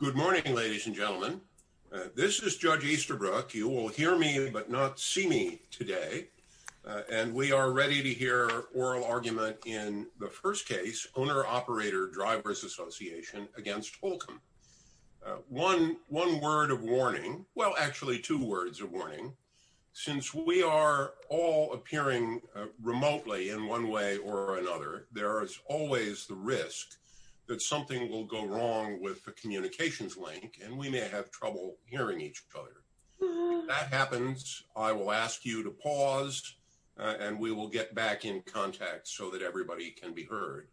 Good morning, ladies and gentlemen. This is Judge Easterbrook. You will hear me but not see me today. And we are ready to hear oral argument in the first case, Owner-Operator Drivers Association against Holcomb. One word of warning. Well, actually two words of warning. Since we are all appearing remotely in one way or another, there is always the risk that something will go wrong with the communications link and we may have trouble hearing each other. If that happens, I will ask you to pause and we will get back in contact so that everybody can be heard.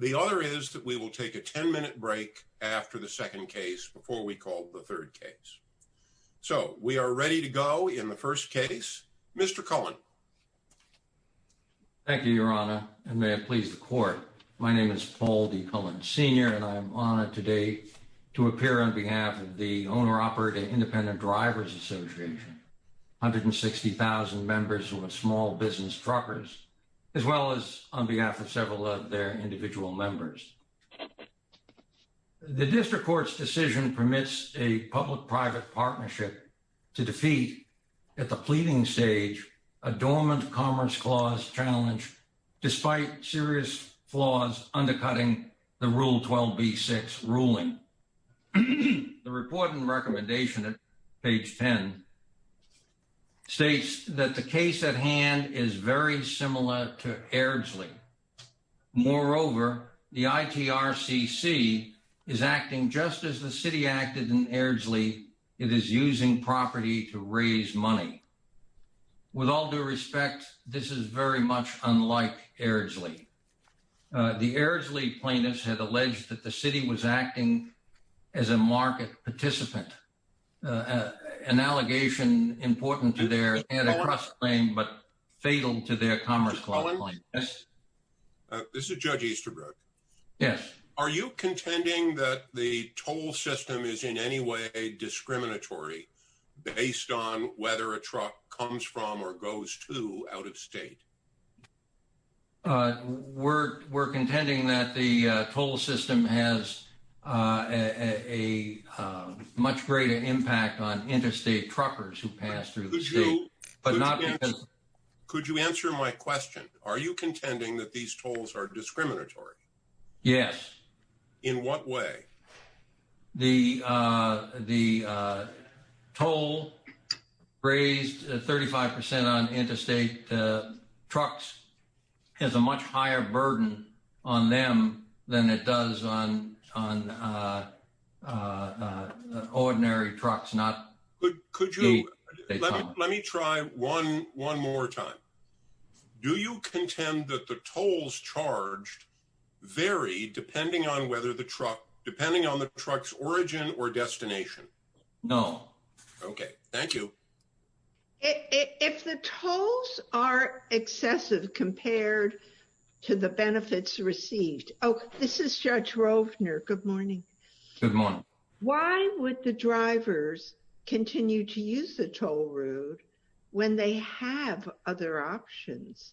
The other is that we will take a 10-minute break after the second case before we call the third case. So we are ready to go in the first case. Mr. Cullen. Thank you, Your Honor, and may it please the court. My name is Paul D. Cullen Sr. and I am honored today to appear on behalf of the Owner-Operator Independent Drivers Association, 160,000 members who are small business truckers, as well as on behalf of several of their individual members. The district court's decision permits a public-private partnership to defeat at the pleading stage a dormant Commerce Clause challenge, despite serious flaws undercutting the Rule 12b-6 ruling. The report and recommendation at page 10 states that the case at hand is very similar to Airdsley. Moreover, the ITRCC is acting just as the city acted in Airdsley. It is using property to raise money. With all due respect, this is very much unlike Airdsley. The Airdsley plaintiffs had alleged that the city was acting as a market participant, an allegation important to their antitrust claim but fatal to their Commerce Clause claim. This is Judge Easterbrook. Are you contending that the toll system is in any way discriminatory based on whether a truck comes from or goes to out-of-state? We're contending that the toll system has a much greater impact on interstate truckers who pass through the state. Could you answer my question? Are you contending that these tolls are discriminatory? Yes. In what way? The toll raised 35% on interstate trucks has a much higher burden on them than it does on ordinary trucks. Let me try one more time. Do you contend that the tolls charged vary depending on the truck's origin or destination? No. Okay. Thank you. If the tolls are excessive compared to the benefits received... Oh, this is Judge Rovner. Good morning. Good morning. Why would the drivers continue to use the toll road when they have other options?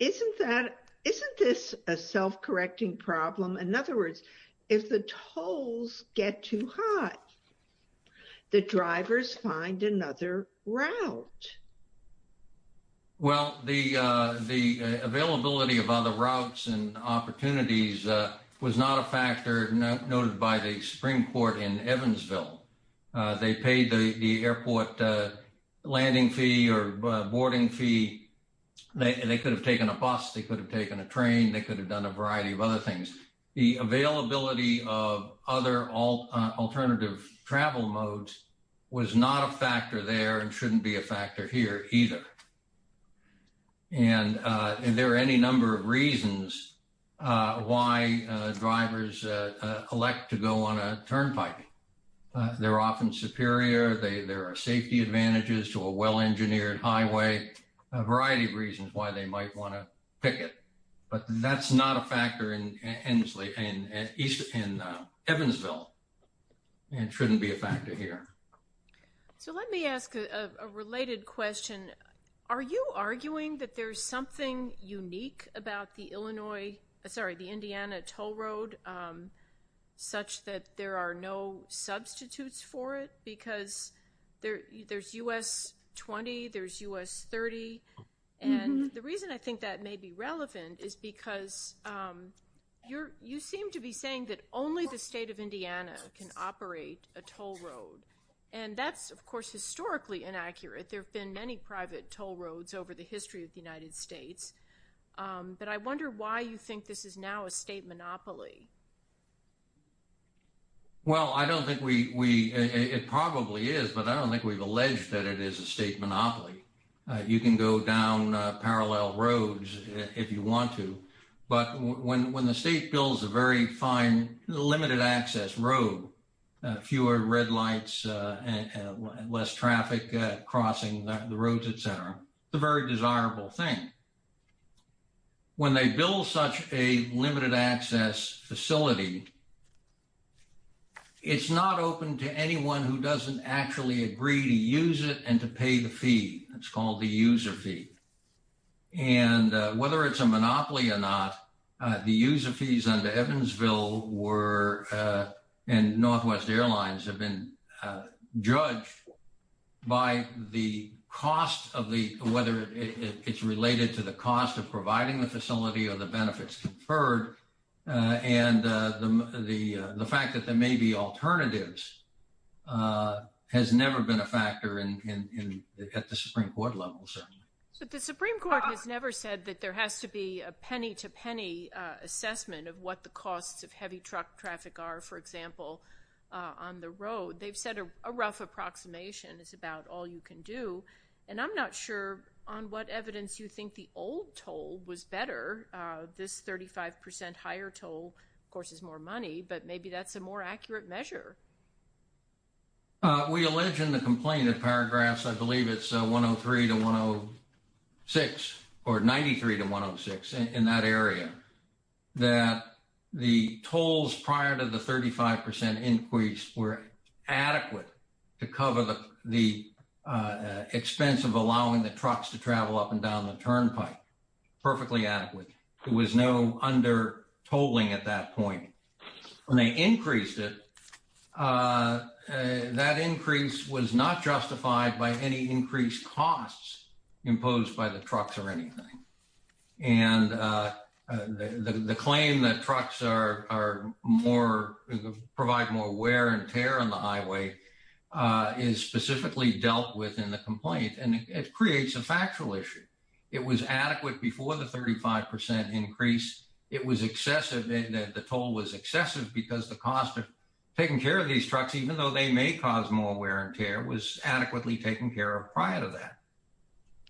Isn't this a self-correcting problem? In other words, if the tolls get too high, the drivers find another route. Well, the availability of other routes and opportunities was not a factor noted by the Supreme Court in Evansville. They paid the airport landing fee or boarding fee. They could have taken a bus. They could have taken a train. They could have done a variety of other things. The availability of other alternative travel modes was not a factor there and shouldn't be a factor here either. And there are any number of reasons why drivers elect to go on a turnpike. They're often superior. There are safety advantages to a well-engineered highway, a variety of reasons why they might want to pick it. But that's not a factor in Evansville and shouldn't be a factor here. So let me ask a related question. Are you arguing that there's something unique about the Indiana toll road such that there are no substitutes for it? Because there's U.S. 20, there's U.S. 30. And the reason I think that may be relevant is because you seem to be saying that only the state of Indiana can operate a toll road. And that's, of course, historically inaccurate. There have been many private toll roads over the history of the United States. But I wonder why you think this is now a state monopoly. Well, I don't think we we it probably is, but I don't think we've alleged that it is a state monopoly. You can go down parallel roads if you want to. But when the state builds a very fine limited access road, fewer red lights and less traffic crossing the roads, et cetera, it's a very desirable thing. When they build such a limited access facility, it's not open to anyone who doesn't actually agree to use it and to pay the fee. It's called the user fee. And whether it's a monopoly or not, the user fees under Evansville were and Northwest Airlines have been judged by the cost of the weather. It's related to the cost of providing the facility or the benefits conferred. And the fact that there may be alternatives has never been a factor in the Supreme Court level. So the Supreme Court has never said that there has to be a penny to penny assessment of what the costs of heavy truck traffic are, for example, on the road. They've said a rough approximation is about all you can do. And I'm not sure on what evidence you think the old toll was better. This 35 percent higher toll, of course, is more money, but maybe that's a more accurate measure. We allege in the complaint in paragraphs, I believe it's 103 to 106 or 93 to 106 in that area. That the tolls prior to the 35 percent increase were adequate to cover the expense of allowing the trucks to travel up and down the turnpike. Perfectly adequate. It was no under tolling at that point. When they increased it, that increase was not justified by any increased costs imposed by the trucks or anything. And the claim that trucks provide more wear and tear on the highway is specifically dealt with in the complaint. And it creates a factual issue. It was adequate before the 35 percent increase. It was excessive in that the toll was excessive because the cost of taking care of these trucks, even though they may cause more wear and tear, was adequately taken care of prior to that.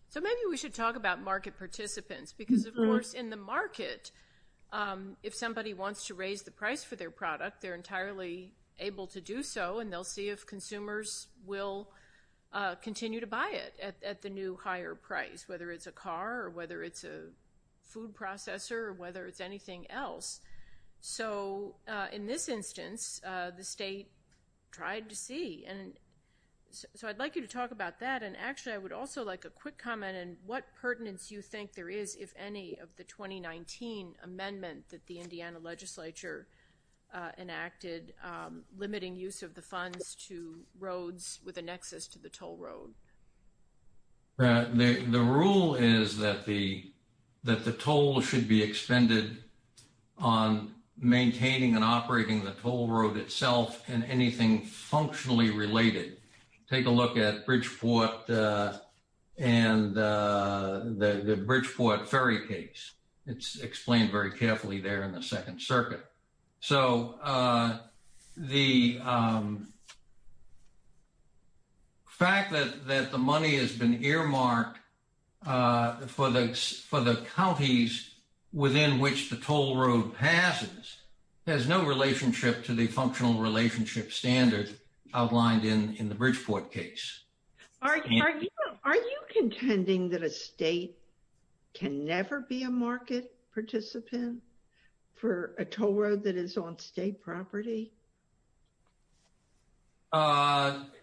So maybe we should talk about market participants because, of course, in the market, if somebody wants to raise the price for their product, they're entirely able to do so. And they'll see if consumers will continue to buy it at the new higher price, whether it's a car or whether it's a food processor or whether it's anything else. So in this instance, the state tried to see. So I'd like you to talk about that. And actually, I would also like a quick comment. And what pertinence do you think there is, if any, of the 2019 amendment that the Indiana legislature enacted limiting use of the funds to roads with a nexus to the toll road? The rule is that the toll should be expended on maintaining and operating the toll road itself and anything functionally related. Take a look at Bridgeport and the Bridgeport Ferry case. It's explained very carefully there in the Second Circuit. So the fact that the money has been earmarked for the counties within which the toll road passes has no relationship to the functional relationship standard outlined in the Bridgeport case. Are you contending that a state can never be a market participant for a toll road that is on state property?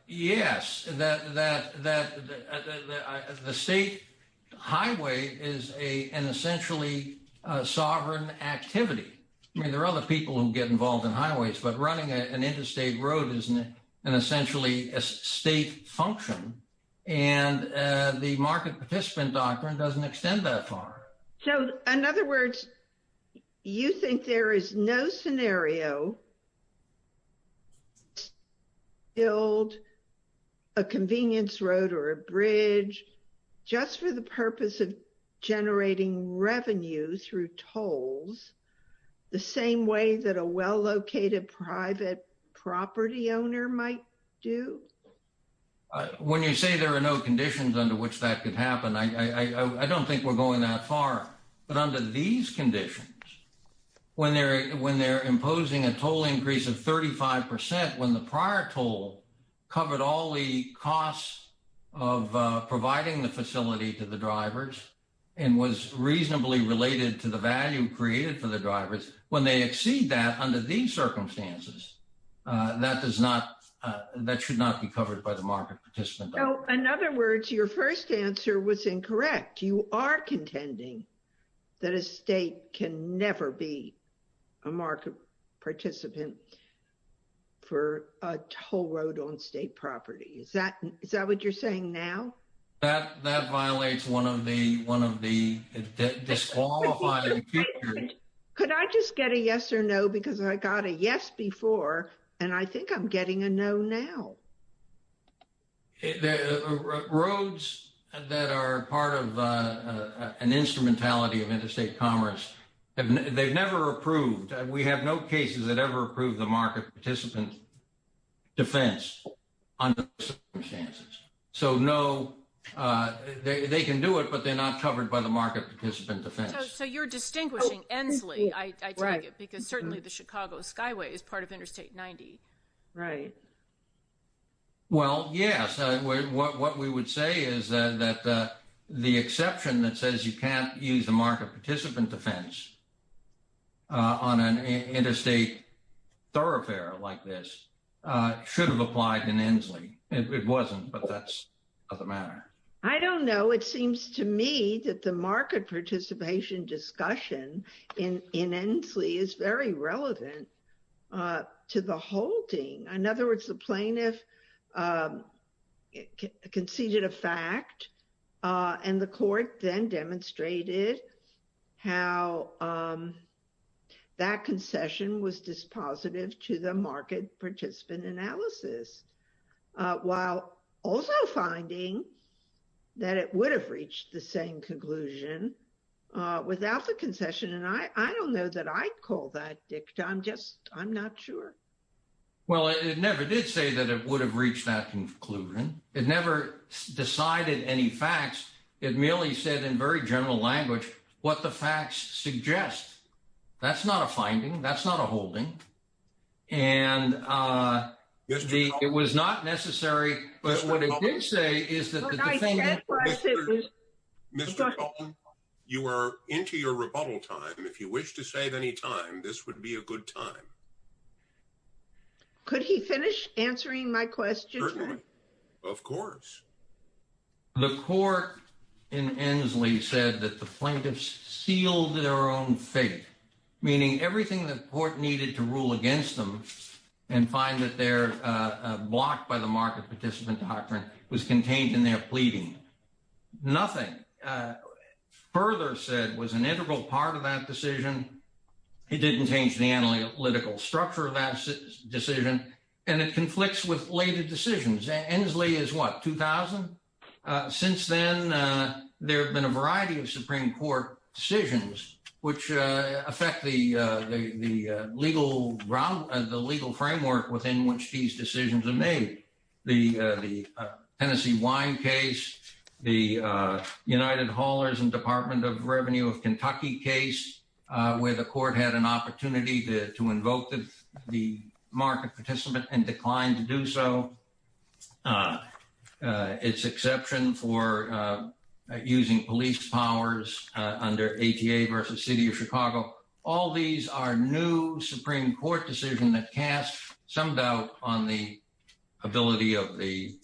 Yes, the state highway is an essentially sovereign activity. I mean, there are other people who get involved in highways, but running an interstate road is an essentially a state function. And the market participant doctrine doesn't extend that far. So, in other words, you think there is no scenario to build a convenience road or a bridge just for the purpose of generating revenue through tolls the same way that a well-located private property owner might do? When you say there are no conditions under which that could happen, I don't think we're going that far. But under these conditions, when they're imposing a toll increase of 35%, when the prior toll covered all the costs of providing the facility to the drivers and was reasonably related to the value created for the drivers, when they exceed that under these circumstances, that should not be covered by the market participant doctrine. So, in other words, your first answer was incorrect. You are contending that a state can never be a market participant for a toll road on state property. Is that what you're saying now? That violates one of the disqualified features. Could I just get a yes or no, because I got a yes before, and I think I'm getting a no now. Roads that are part of an instrumentality of interstate commerce, they've never approved. We have no cases that ever approved the market participant defense under those circumstances. So, no, they can do it, but they're not covered by the market participant defense. So, you're distinguishing Ensley, I take it, because certainly the Chicago Skyway is part of Interstate 90. Right. Well, yes. What we would say is that the exception that says you can't use the market participant defense on an interstate thoroughfare like this should have applied in Ensley. It wasn't, but that's another matter. I don't know. It seems to me that the market participation discussion in Ensley is very relevant to the holding. In other words, the plaintiff conceded a fact, and the court then demonstrated how that concession was dispositive to the market participant analysis. While also finding that it would have reached the same conclusion without the concession, and I don't know that I'd call that dicta. I'm just, I'm not sure. Well, it never did say that it would have reached that conclusion. It never decided any facts. It merely said in very general language what the facts suggest. That's not a finding. That's not a holding. And it was not necessary, but what it did say is that the defendant... Mr. Coulton, you are into your rebuttal time. If you wish to save any time, this would be a good time. Could he finish answering my question? Certainly. Of course. The court in Ensley said that the plaintiffs sealed their own fate, meaning everything the court needed to rule against them and find that they're blocked by the market participant doctrine was contained in their pleading. Nothing further said was an integral part of that decision. It didn't change the analytical structure of that decision, and it conflicts with later decisions. Ensley is what, 2000? Since then, there have been a variety of Supreme Court decisions which affect the legal framework within which these decisions are made. The Tennessee Wine case, the United Haulers and Department of Revenue of Kentucky case, where the court had an opportunity to invoke the market participant and declined to do so. Its exception for using police powers under ATA versus City of Chicago. All these are new Supreme Court decisions that cast some doubt on the ability of the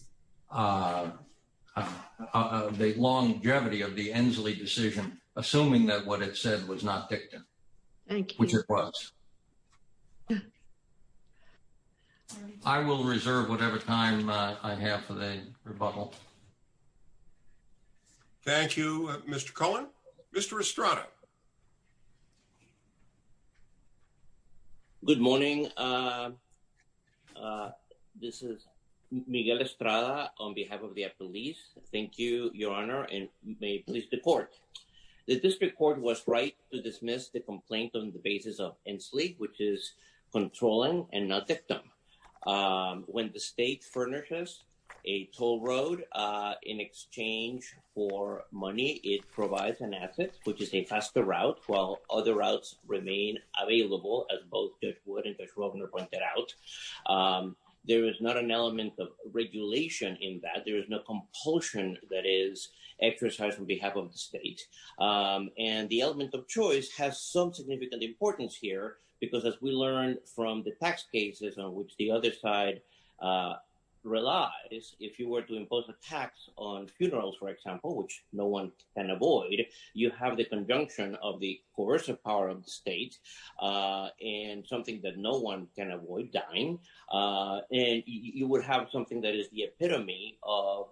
longevity of the Ensley decision, assuming that what it said was not dictum. Thank you. Which it was. I will reserve whatever time I have for the rebuttal. Thank you, Mr. Cohen. Mr. Estrada. Good morning. This is Miguel Estrada on behalf of the police. Thank you, Your Honor, and may it please the court. The district court was right to dismiss the complaint on the basis of Ensley, which is controlling and not dictum. When the state furnishes a toll road in exchange for money, it provides an asset, which is a faster route, while other routes remain available. As both Judge Wood and Judge Wagner pointed out, there is not an element of regulation in that. The other side relies, if you were to impose a tax on funerals, for example, which no one can avoid, you have the conjunction of the coercive power of the state and something that no one can avoid dying. You would have something that is the epitome of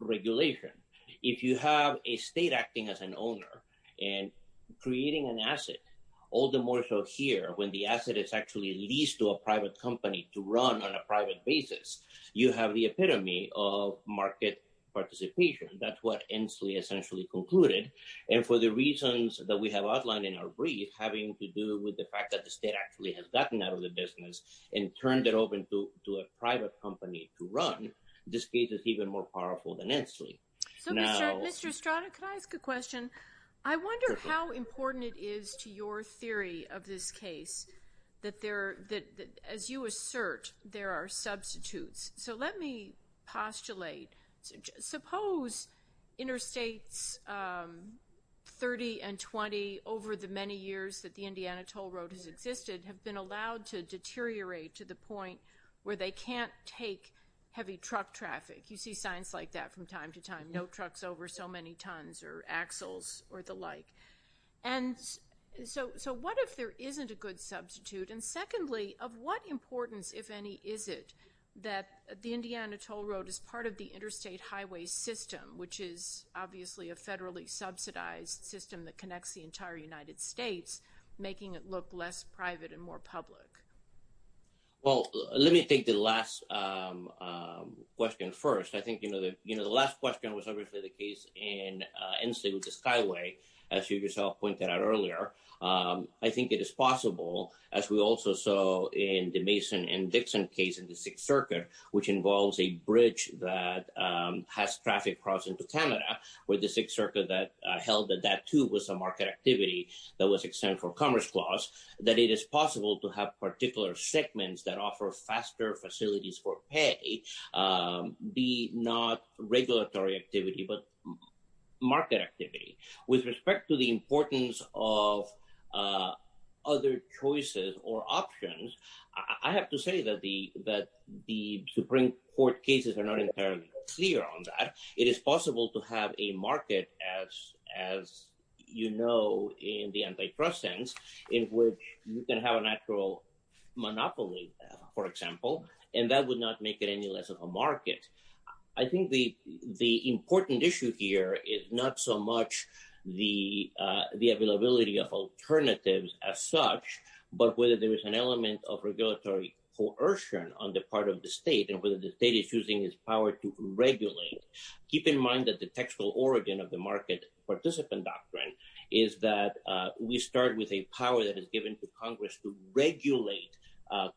regulation. If you have a state acting as an owner and creating an asset, all the more so here when the asset is actually leased to a private company to run on a private basis, you have the epitome of market participation. That's what Ensley essentially concluded. And for the reasons that we have outlined in our brief, having to do with the fact that the state actually has gotten out of the business and turned it open to a private company to run, this case is even more powerful than Ensley. So, Mr. Strada, can I ask a question? I wonder how important it is to your theory of this case that, as you assert, there are substitutes. So let me postulate. Suppose interstates 30 and 20 over the many years that the Indiana toll road has existed have been allowed to deteriorate to the point where they can't take heavy truck traffic. You see signs like that from time to time, no trucks over so many tons or axles or the like. And so what if there isn't a good substitute? And secondly, of what importance, if any, is it that the Indiana toll road is part of the interstate highway system, which is obviously a federally subsidized system that connects the entire United States, making it look less private and more public? Well, let me take the last question first. I think the last question was obviously the case in Ensley with the Skyway, as you yourself pointed out earlier. I think it is possible, as we also saw in the Mason and Dixon case in the 6th Circuit, which involves a bridge that has traffic crossing to Canada with the 6th Circuit that held that that too was a market activity that was exempt from Commerce Clause, that it is possible to have particular segments that offer faster facilities for pay be not regulatory activity, but market activity. With respect to the importance of other choices or options, I have to say that the Supreme Court cases are not entirely clear on that. It is possible to have a market, as you know, in the antitrust sense in which you can have a natural monopoly, for example, and that would not make it any less of a market. I think the important issue here is not so much the availability of alternatives as such, but whether there is an element of regulatory coercion on the part of the state and whether the state is using its power to regulate. Keep in mind that the textual origin of the market participant doctrine is that we start with a power that is given to Congress to regulate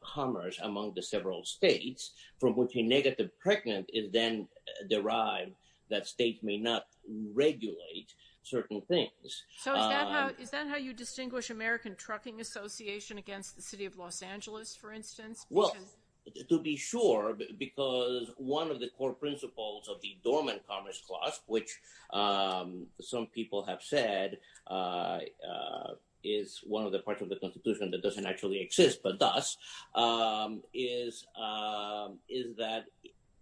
commerce among the several states, from which a negative pregnant is then derived that states may not regulate certain things. So is that how you distinguish American Trucking Association against the city of Los Angeles, for instance? Well, to be sure, because one of the core principles of the Dormant Commerce Clause, which some people have said is one of the parts of the Constitution that doesn't actually exist, but does, is that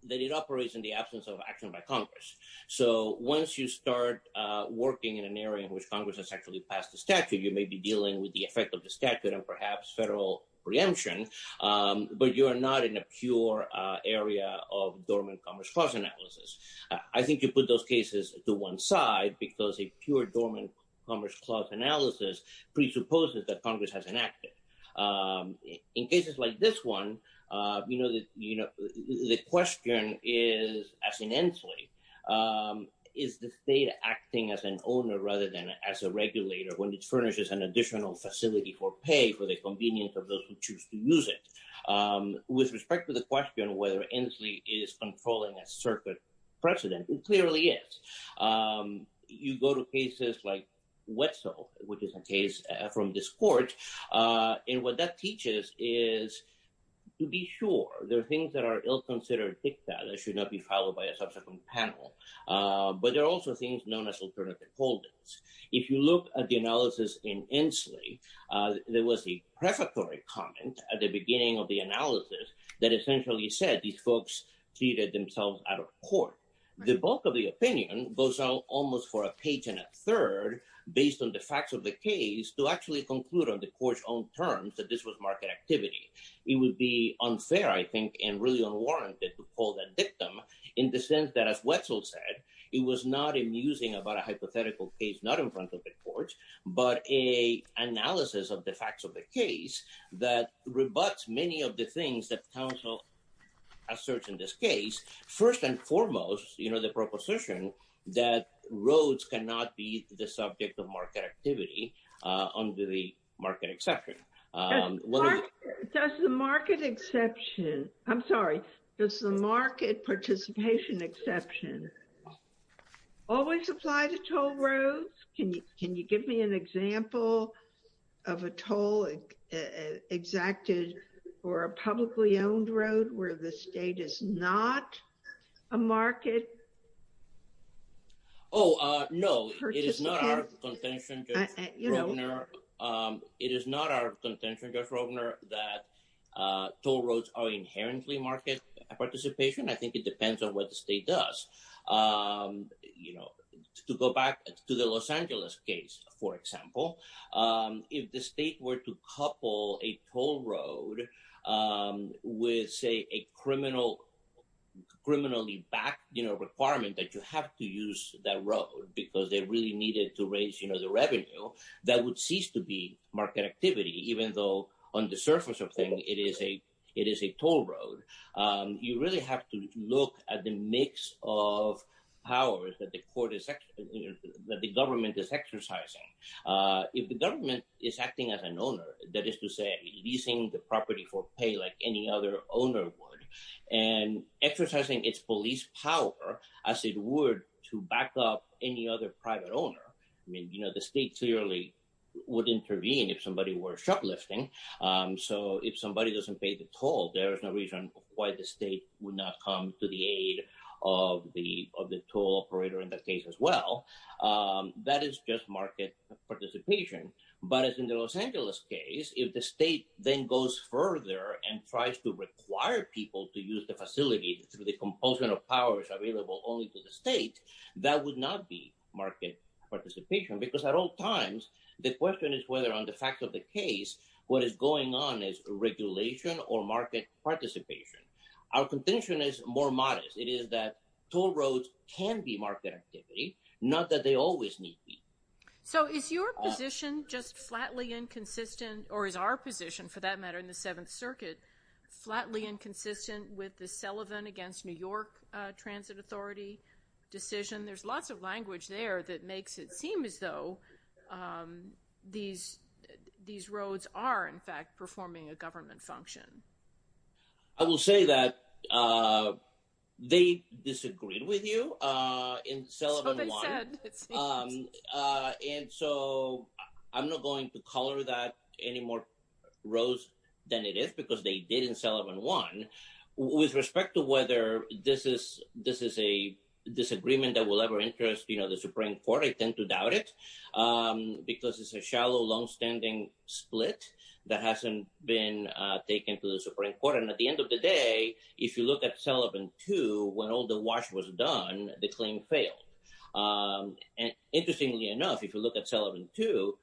it operates in the absence of action by Congress. So once you start working in an area in which Congress has actually passed the statute, you may be dealing with the effect of the statute and perhaps federal preemption, but you are not in a pure area of Dormant Commerce Clause analysis. I think you put those cases to one side because a pure Dormant Commerce Clause analysis presupposes that Congress has enacted. In cases like this one, the question is, as in Inslee, is the state acting as an owner rather than as a regulator when it furnishes an additional facility for pay for the convenience of those who choose to use it? With respect to the question whether Inslee is controlling a circuit precedent, it clearly is. You go to cases like Wetzel, which is a case from this court, and what that teaches is to be sure. There are things that are ill-considered, that should not be followed by a subsequent panel. But there are also things known as alternative holdings. If you look at the analysis in Inslee, there was a prefatory comment at the beginning of the analysis that essentially said these folks treated themselves out of court. The bulk of the opinion goes out almost for a page and a third based on the facts of the case to actually conclude on the court's own terms that this was market activity. It would be unfair, I think, and really unwarranted to call that dictum in the sense that, as Wetzel said, it was not a musing about a hypothetical case, not in front of the court, but an analysis of the facts of the case that rebuts many of the things that counsel asserts in this case. First and foremost, the proposition that roads cannot be the subject of market activity under the market exception. Does the market exception, I'm sorry, does the market participation exception always apply to toll roads? Can you give me an example of a toll exacted for a publicly owned road where the state is not a market participant? Oh, no, it is not our contention, Judge Rogner, that toll roads are inherently market participation. I think it depends on what the state does. You know, to go back to the Los Angeles case, for example, if the state were to couple a toll road with, say, a criminally backed requirement that you have to use that road because they really needed to raise the revenue, that would cease to be market activity, even though on the surface of things it is a toll road. You really have to look at the mix of powers that the government is exercising. If the government is acting as an owner, that is to say, leasing the property for pay like any other owner would and exercising its police power as it would to back up any other private owner. I mean, you know, the state clearly would intervene if somebody were shoplifting. So if somebody doesn't pay the toll, there is no reason why the state would not come to the aid of the toll operator in that case as well. That is just market participation. But as in the Los Angeles case, if the state then goes further and tries to require people to use the facility through the compulsion of powers available only to the state, that would not be market participation. Because at all times, the question is whether on the fact of the case, what is going on is regulation or market participation. Our contention is more modest. It is that toll roads can be market activity, not that they always need to be. So is your position just flatly inconsistent, or is our position for that matter in the Seventh Circuit, flatly inconsistent with the Sullivan against New York Transit Authority decision? There's lots of language there that makes it seem as though these roads are in fact performing a government function. I will say that they disagreed with you in Sullivan 1. And so I'm not going to color that any more roads than it is because they did in Sullivan 1. With respect to whether this is a disagreement that will ever interest the Supreme Court, I tend to doubt it because it's a shallow, longstanding split that hasn't been taken to the Supreme Court. And at the end of the day, if you look at Sullivan 2, when all the wash was done, the claim failed. And interestingly enough, if you look at Sullivan 2,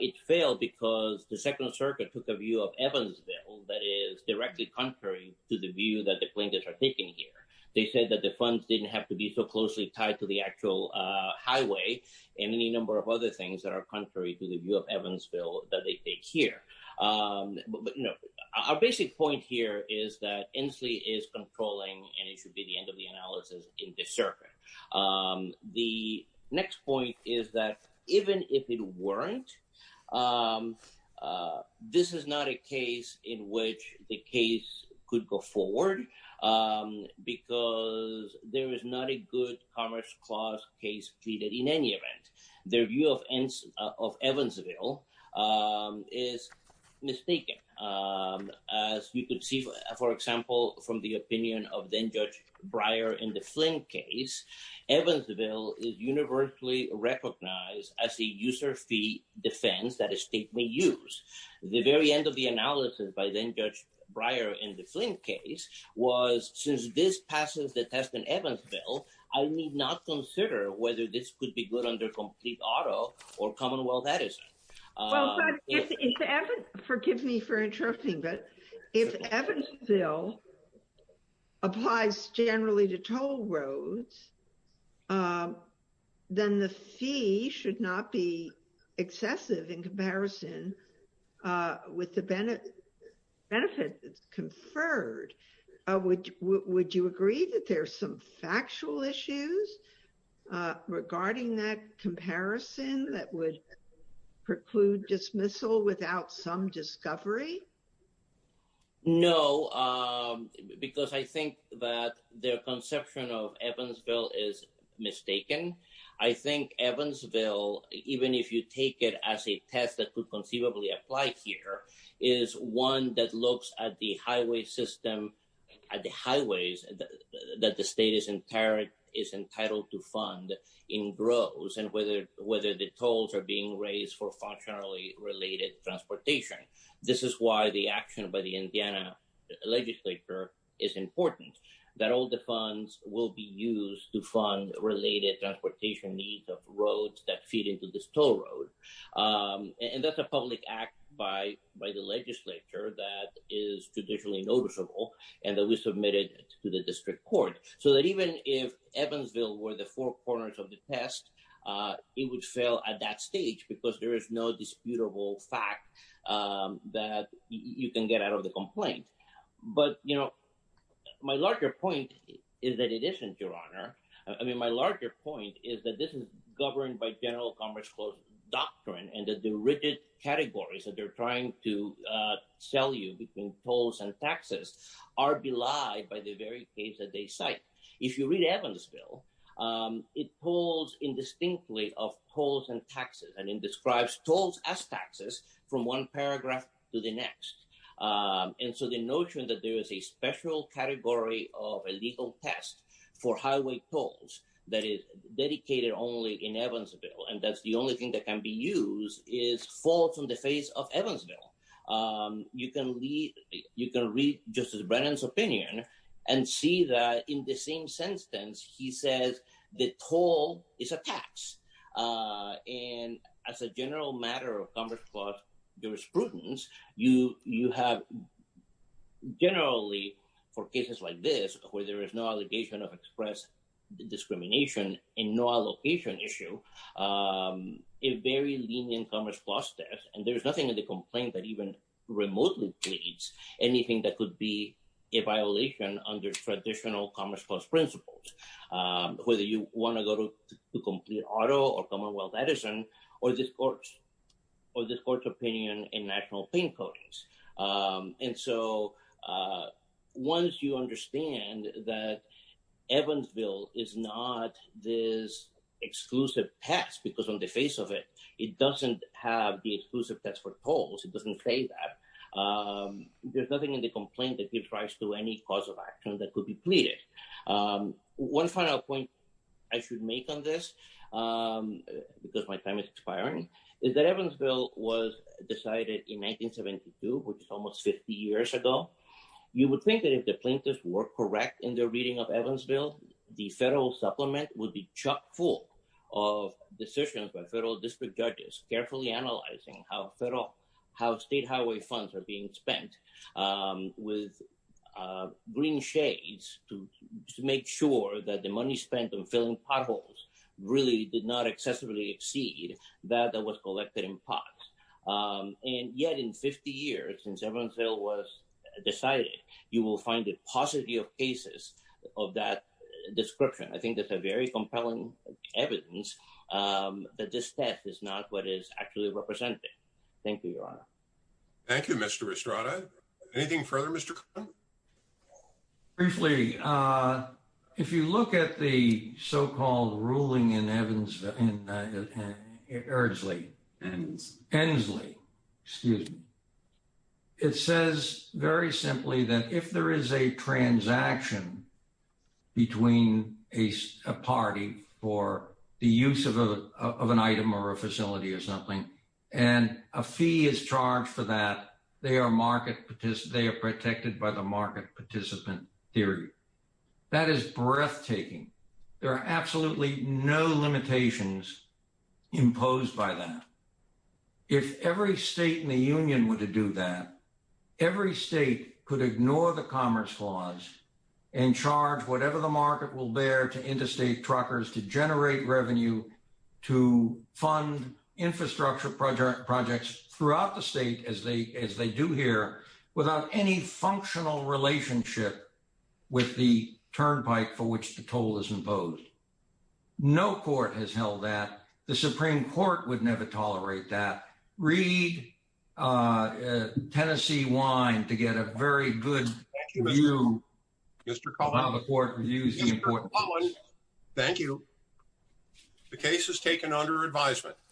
it failed because the Second Circuit took a view of Evansville that is directly contrary to the view that the plaintiffs are taking here. They said that the funds didn't have to be so closely tied to the actual highway and any number of other things that are contrary to the view of Evansville that they take here. Our basic point here is that Inslee is controlling and it should be the end of the analysis in the circuit. The next point is that even if it weren't, this is not a case in which the case could go forward because there is not a good commerce clause case pleaded in any event. Their view of Evansville is mistaken. As you could see, for example, from the opinion of then Judge Breyer in the Flint case, Evansville is universally recognized as a user fee defense that a state may use. The very end of the analysis by then Judge Breyer in the Flint case was since this passes the test in Evansville, I need not consider whether this could be good under complete auto or Commonwealth Edison. Forgive me for interrupting, but if Evansville applies generally to toll roads, then the fee should not be excessive in comparison with the benefit that's conferred. Would you agree that there's some factual issues regarding that comparison that would preclude dismissal without some discovery? No, because I think that their conception of Evansville is mistaken. I think Evansville, even if you take it as a test that could conceivably apply here, is one that looks at the highway system, at the highways that the state is entitled to fund in gross and whether the tolls are being raised for functionally related transportation. This is why the action by the Indiana legislature is important, that all the funds will be used to fund related transportation needs of roads that feed into this toll road. And that's a public act by the legislature that is traditionally noticeable and that we submitted to the district court. So that even if Evansville were the four corners of the test, it would fail at that stage because there is no disputable fact that you can get out of the complaint. But, you know, my larger point is that it isn't, Your Honor. I mean, my larger point is that this is governed by general commerce doctrine and that the rigid categories that they're trying to sell you between tolls and taxes are belied by the very case that they cite. If you read Evansville, it pulls in distinctly of tolls and taxes and it describes tolls as taxes from one paragraph to the next. And so the notion that there is a special category of a legal test for highway tolls that is dedicated only in Evansville, and that's the only thing that can be used, is fall from the face of Evansville. You can read Justice Brennan's opinion and see that in the same sentence, he says the toll is a tax. And as a general matter of commerce, plus jurisprudence, you you have generally for cases like this where there is no allegation of express discrimination in no allocation issue, a very lenient commerce plus test. And there's nothing in the complaint that even remotely pleads anything that could be a violation under traditional commerce plus principles, whether you want to go to the complete auto or Commonwealth Edison or this court or this court's opinion in national pain codings. And so once you understand that Evansville is not this exclusive test, because on the face of it, it doesn't have the exclusive test for tolls. It doesn't say that there's nothing in the complaint that gives rise to any cause of action that could be pleaded. One final point I should make on this, because my time is expiring, is that Evansville was decided in 1972, which is almost 50 years ago. You would think that if the plaintiffs were correct in their reading of Evansville, the federal supplement would be chock full of decisions by federal district judges, carefully analyzing how federal how state highway funds are being spent with green shades to make sure that the money spent on filling potholes really did not excessively exceed that that was collected in pots. And yet, in 50 years since Evansville was decided, you will find a positive cases of that description. I think that's a very compelling evidence that this test is not what is actually represented. Thank you, Your Honor. Thank you, Mr. Estrada. Anything further, Mr. Briefly, if you look at the so-called ruling in Evansville and Erdsley and Hensley, excuse me. It says very simply that if there is a transaction between a party for the use of an item or a facility or something, and a fee is charged for that, they are protected by the market participant theory. That is breathtaking. There are absolutely no limitations imposed by that. If every state in the union were to do that, every state could ignore the Commerce Clause and charge whatever the market will bear to interstate truckers to generate revenue to fund infrastructure projects throughout the state as they do here without any functional relationship with the turnpike for which the toll is imposed. No court has held that. The Supreme Court would never tolerate that. Read Tennessee Wine to get a very good view of how the court views the importance. Thank you. The case is taken under advisement.